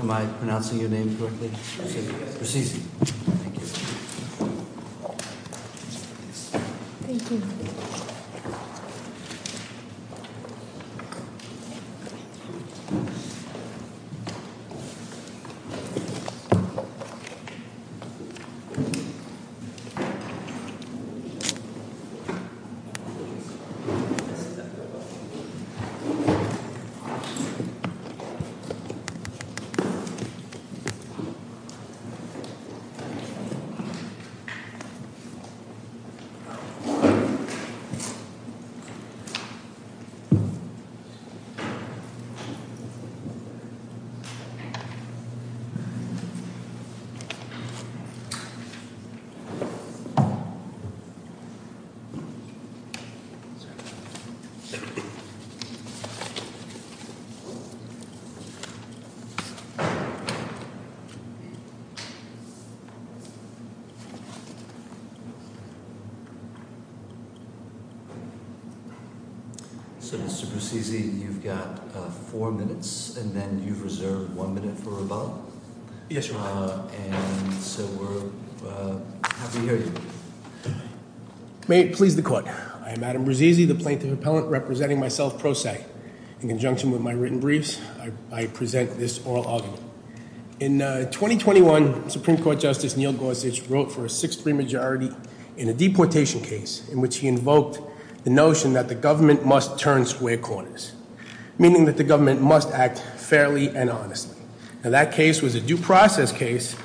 Am I pronouncing your name correctly? Bruzzese. Thank you. Thank you. Thank you. So Mr. Bruzzese, you've got four minutes and then you've reserved one minute for rebellion. Yes, Your Honor. And so we're happy to hear you. May it please the court, I am Adam Bruzzese, the plaintiff appellant, representing myself in conjunction with my written briefs, I present this oral argument. In 2021, Supreme Court Justice Neil Gorsuch wrote for a 6-3 majority in a deportation case in which he invoked the notion that the government must turn square corners, meaning that the government must act fairly and honestly. Now that case was a due process case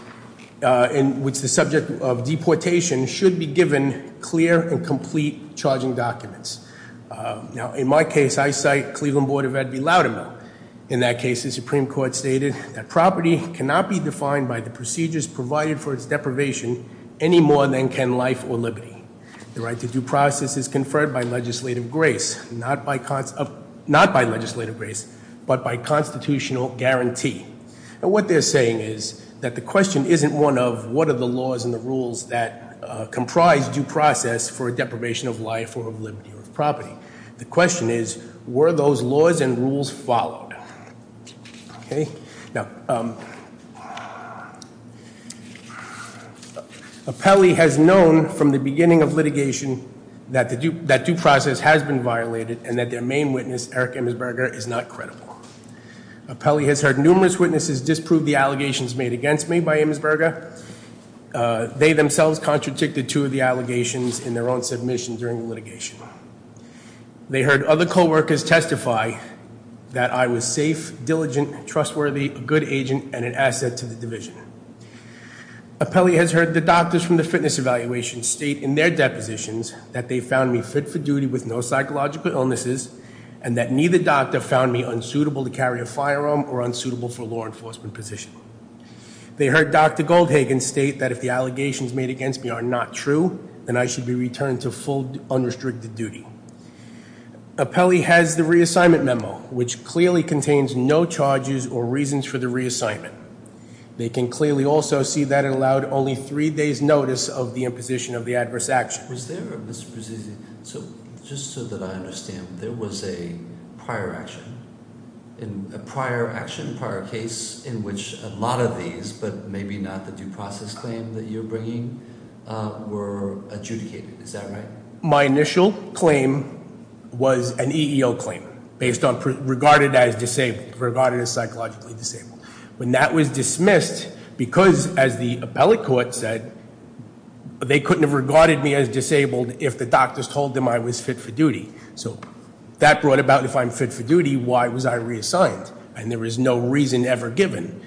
in which the subject of deportation should be given clear and complete charging documents. Now in my case, I cite Cleveland Board of Ed V. Loudermill. In that case, the Supreme Court stated that property cannot be defined by the procedures provided for its deprivation any more than can life or liberty. The right to due process is conferred by legislative grace, not by legislative grace, but by constitutional guarantee. And what they're saying is that the question isn't one of what are the laws and the rules that comprise due process for a deprivation of life or of liberty or of property. The question is, were those laws and rules followed? Now, Apelli has known from the beginning of litigation that due process has been violated and that their main witness, Eric Immersberger, is not credible. Apelli has heard numerous witnesses disprove the allegations made against me by Immersberger. They themselves contradicted two of the allegations in their own submission during the litigation. They heard other co-workers testify that I was safe, diligent, trustworthy, a good agent, and an asset to the division. Apelli has heard the doctors from the fitness evaluation state in their depositions that they found me fit for duty with no psychological illnesses and that neither doctor found me unsuitable to carry a firearm or unsuitable for law enforcement position. They heard Dr. Goldhagen state that if the allegations made against me are not true, then I should be returned to full unrestricted duty. Apelli has the reassignment memo, which clearly contains no charges or reasons for the reassignment. They can clearly also see that it allowed only three days notice of the imposition of the adverse action. So just so that I understand, there was a prior action, a prior action, prior case in which a lot of these, but maybe not the due process claim that you're bringing, were adjudicated. Is that right? My initial claim was an EEO claim based on regarded as disabled, regarded as psychologically disabled. When that was dismissed, because as the appellate court said, they couldn't have regarded me as disabled if the doctors told them I was fit for duty. So that brought about, if I'm fit for duty, why was I reassigned? And there was no reason ever given,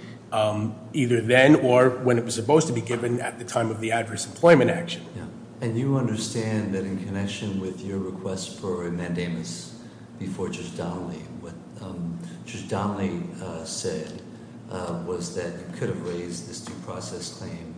either then or when it was supposed to be given at the time of the adverse employment action. And you understand that in connection with your request for a mandamus before Judge Donnelly, what Judge Donnelly said was that you could have raised this due process claim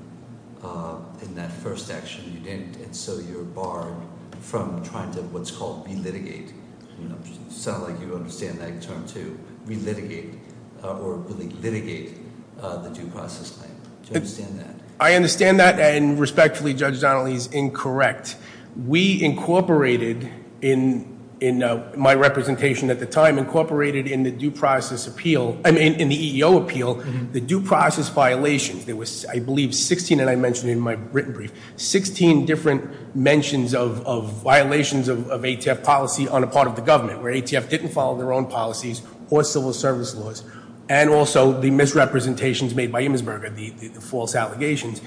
in that first action. You didn't, and so you're barred from trying to what's called re-litigate. It sounds like you understand that term too, re-litigate or re-litigate the due process claim. Do you understand that? I understand that, and respectfully, Judge Donnelly's incorrect. We incorporated in my representation at the time, incorporated in the due process appeal, in the EEO appeal, the due process violations. There was, I believe, 16, and I mentioned in my written brief, 16 different mentions of violations of ATF policy on a part of the government, where ATF didn't follow their own policies or civil service laws. And also the misrepresentations made by Embersberger, the false allegations.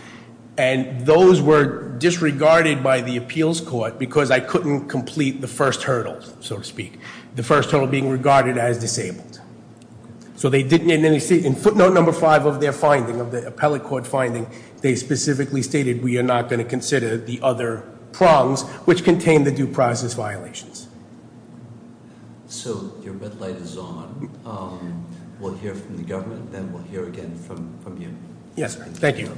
And those were disregarded by the appeals court, because I couldn't complete the first hurdle, so to speak. The first hurdle being regarded as disabled. So they didn't, in footnote number five of their finding, of the appellate court finding, they specifically stated we are not going to consider the other prongs, which contain the due process violations. So your red light is on, we'll hear from the government, then we'll hear again from you. Yes, ma'am, thank you.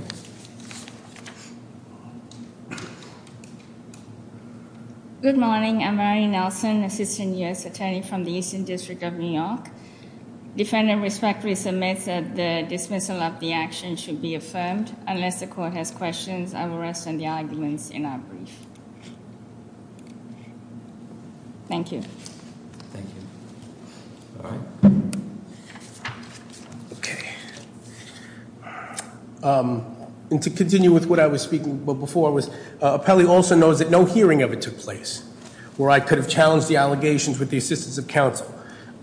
Good morning, I'm Mary Nelson, Assistant U.S. Attorney from the Eastern District of New York. Defendant respectfully submits that the dismissal of the action should be affirmed. Unless the court has questions, I will rest on the arguments in our brief. Thank you. Thank you. Okay. And to continue with what I was speaking before was, Appelli also knows that no hearing of it took place, where I could have challenged the allegations with the assistance of counsel.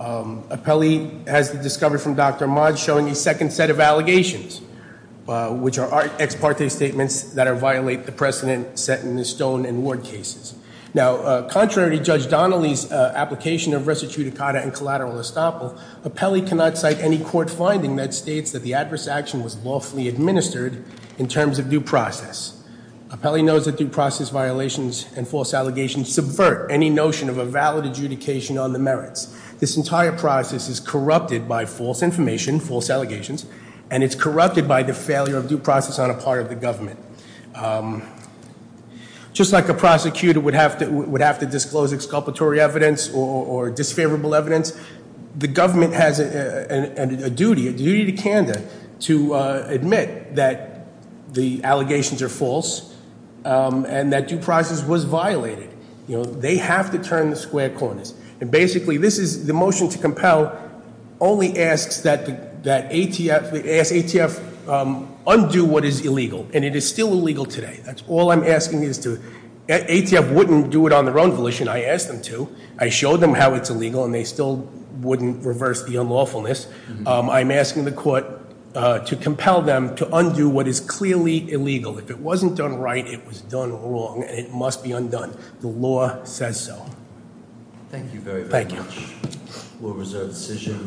Appelli has discovered from Dr. Mod showing a second set of allegations, which are ex parte statements that violate the precedent set in the stone and ward cases. Now, contrary to Judge Donnelly's application of res judicata and collateral estoppel, Appelli cannot cite any court finding that states that the adverse action was lawfully administered in terms of due process. Appelli knows that due process violations and false allegations subvert any notion of a valid adjudication on the merits. This entire process is corrupted by false information, false allegations, and it's corrupted by the failure of due process on a part of the government. Just like a prosecutor would have to disclose exculpatory evidence or disfavorable evidence, the government has a duty, a duty to Canada, to admit that the allegations are false, and that due process was violated. They have to turn the square corners. And basically, this is the motion to compel only asks that ATF undo what is illegal, and it is still illegal today. That's all I'm asking is to, ATF wouldn't do it on their own volition. I asked them to. I showed them how it's illegal, and they still wouldn't reverse the unlawfulness. I'm asking the court to compel them to undo what is clearly illegal. If it wasn't done right, it was done wrong, and it must be undone. The law says so. Thank you very, very much. Thank you. We'll reserve the decision.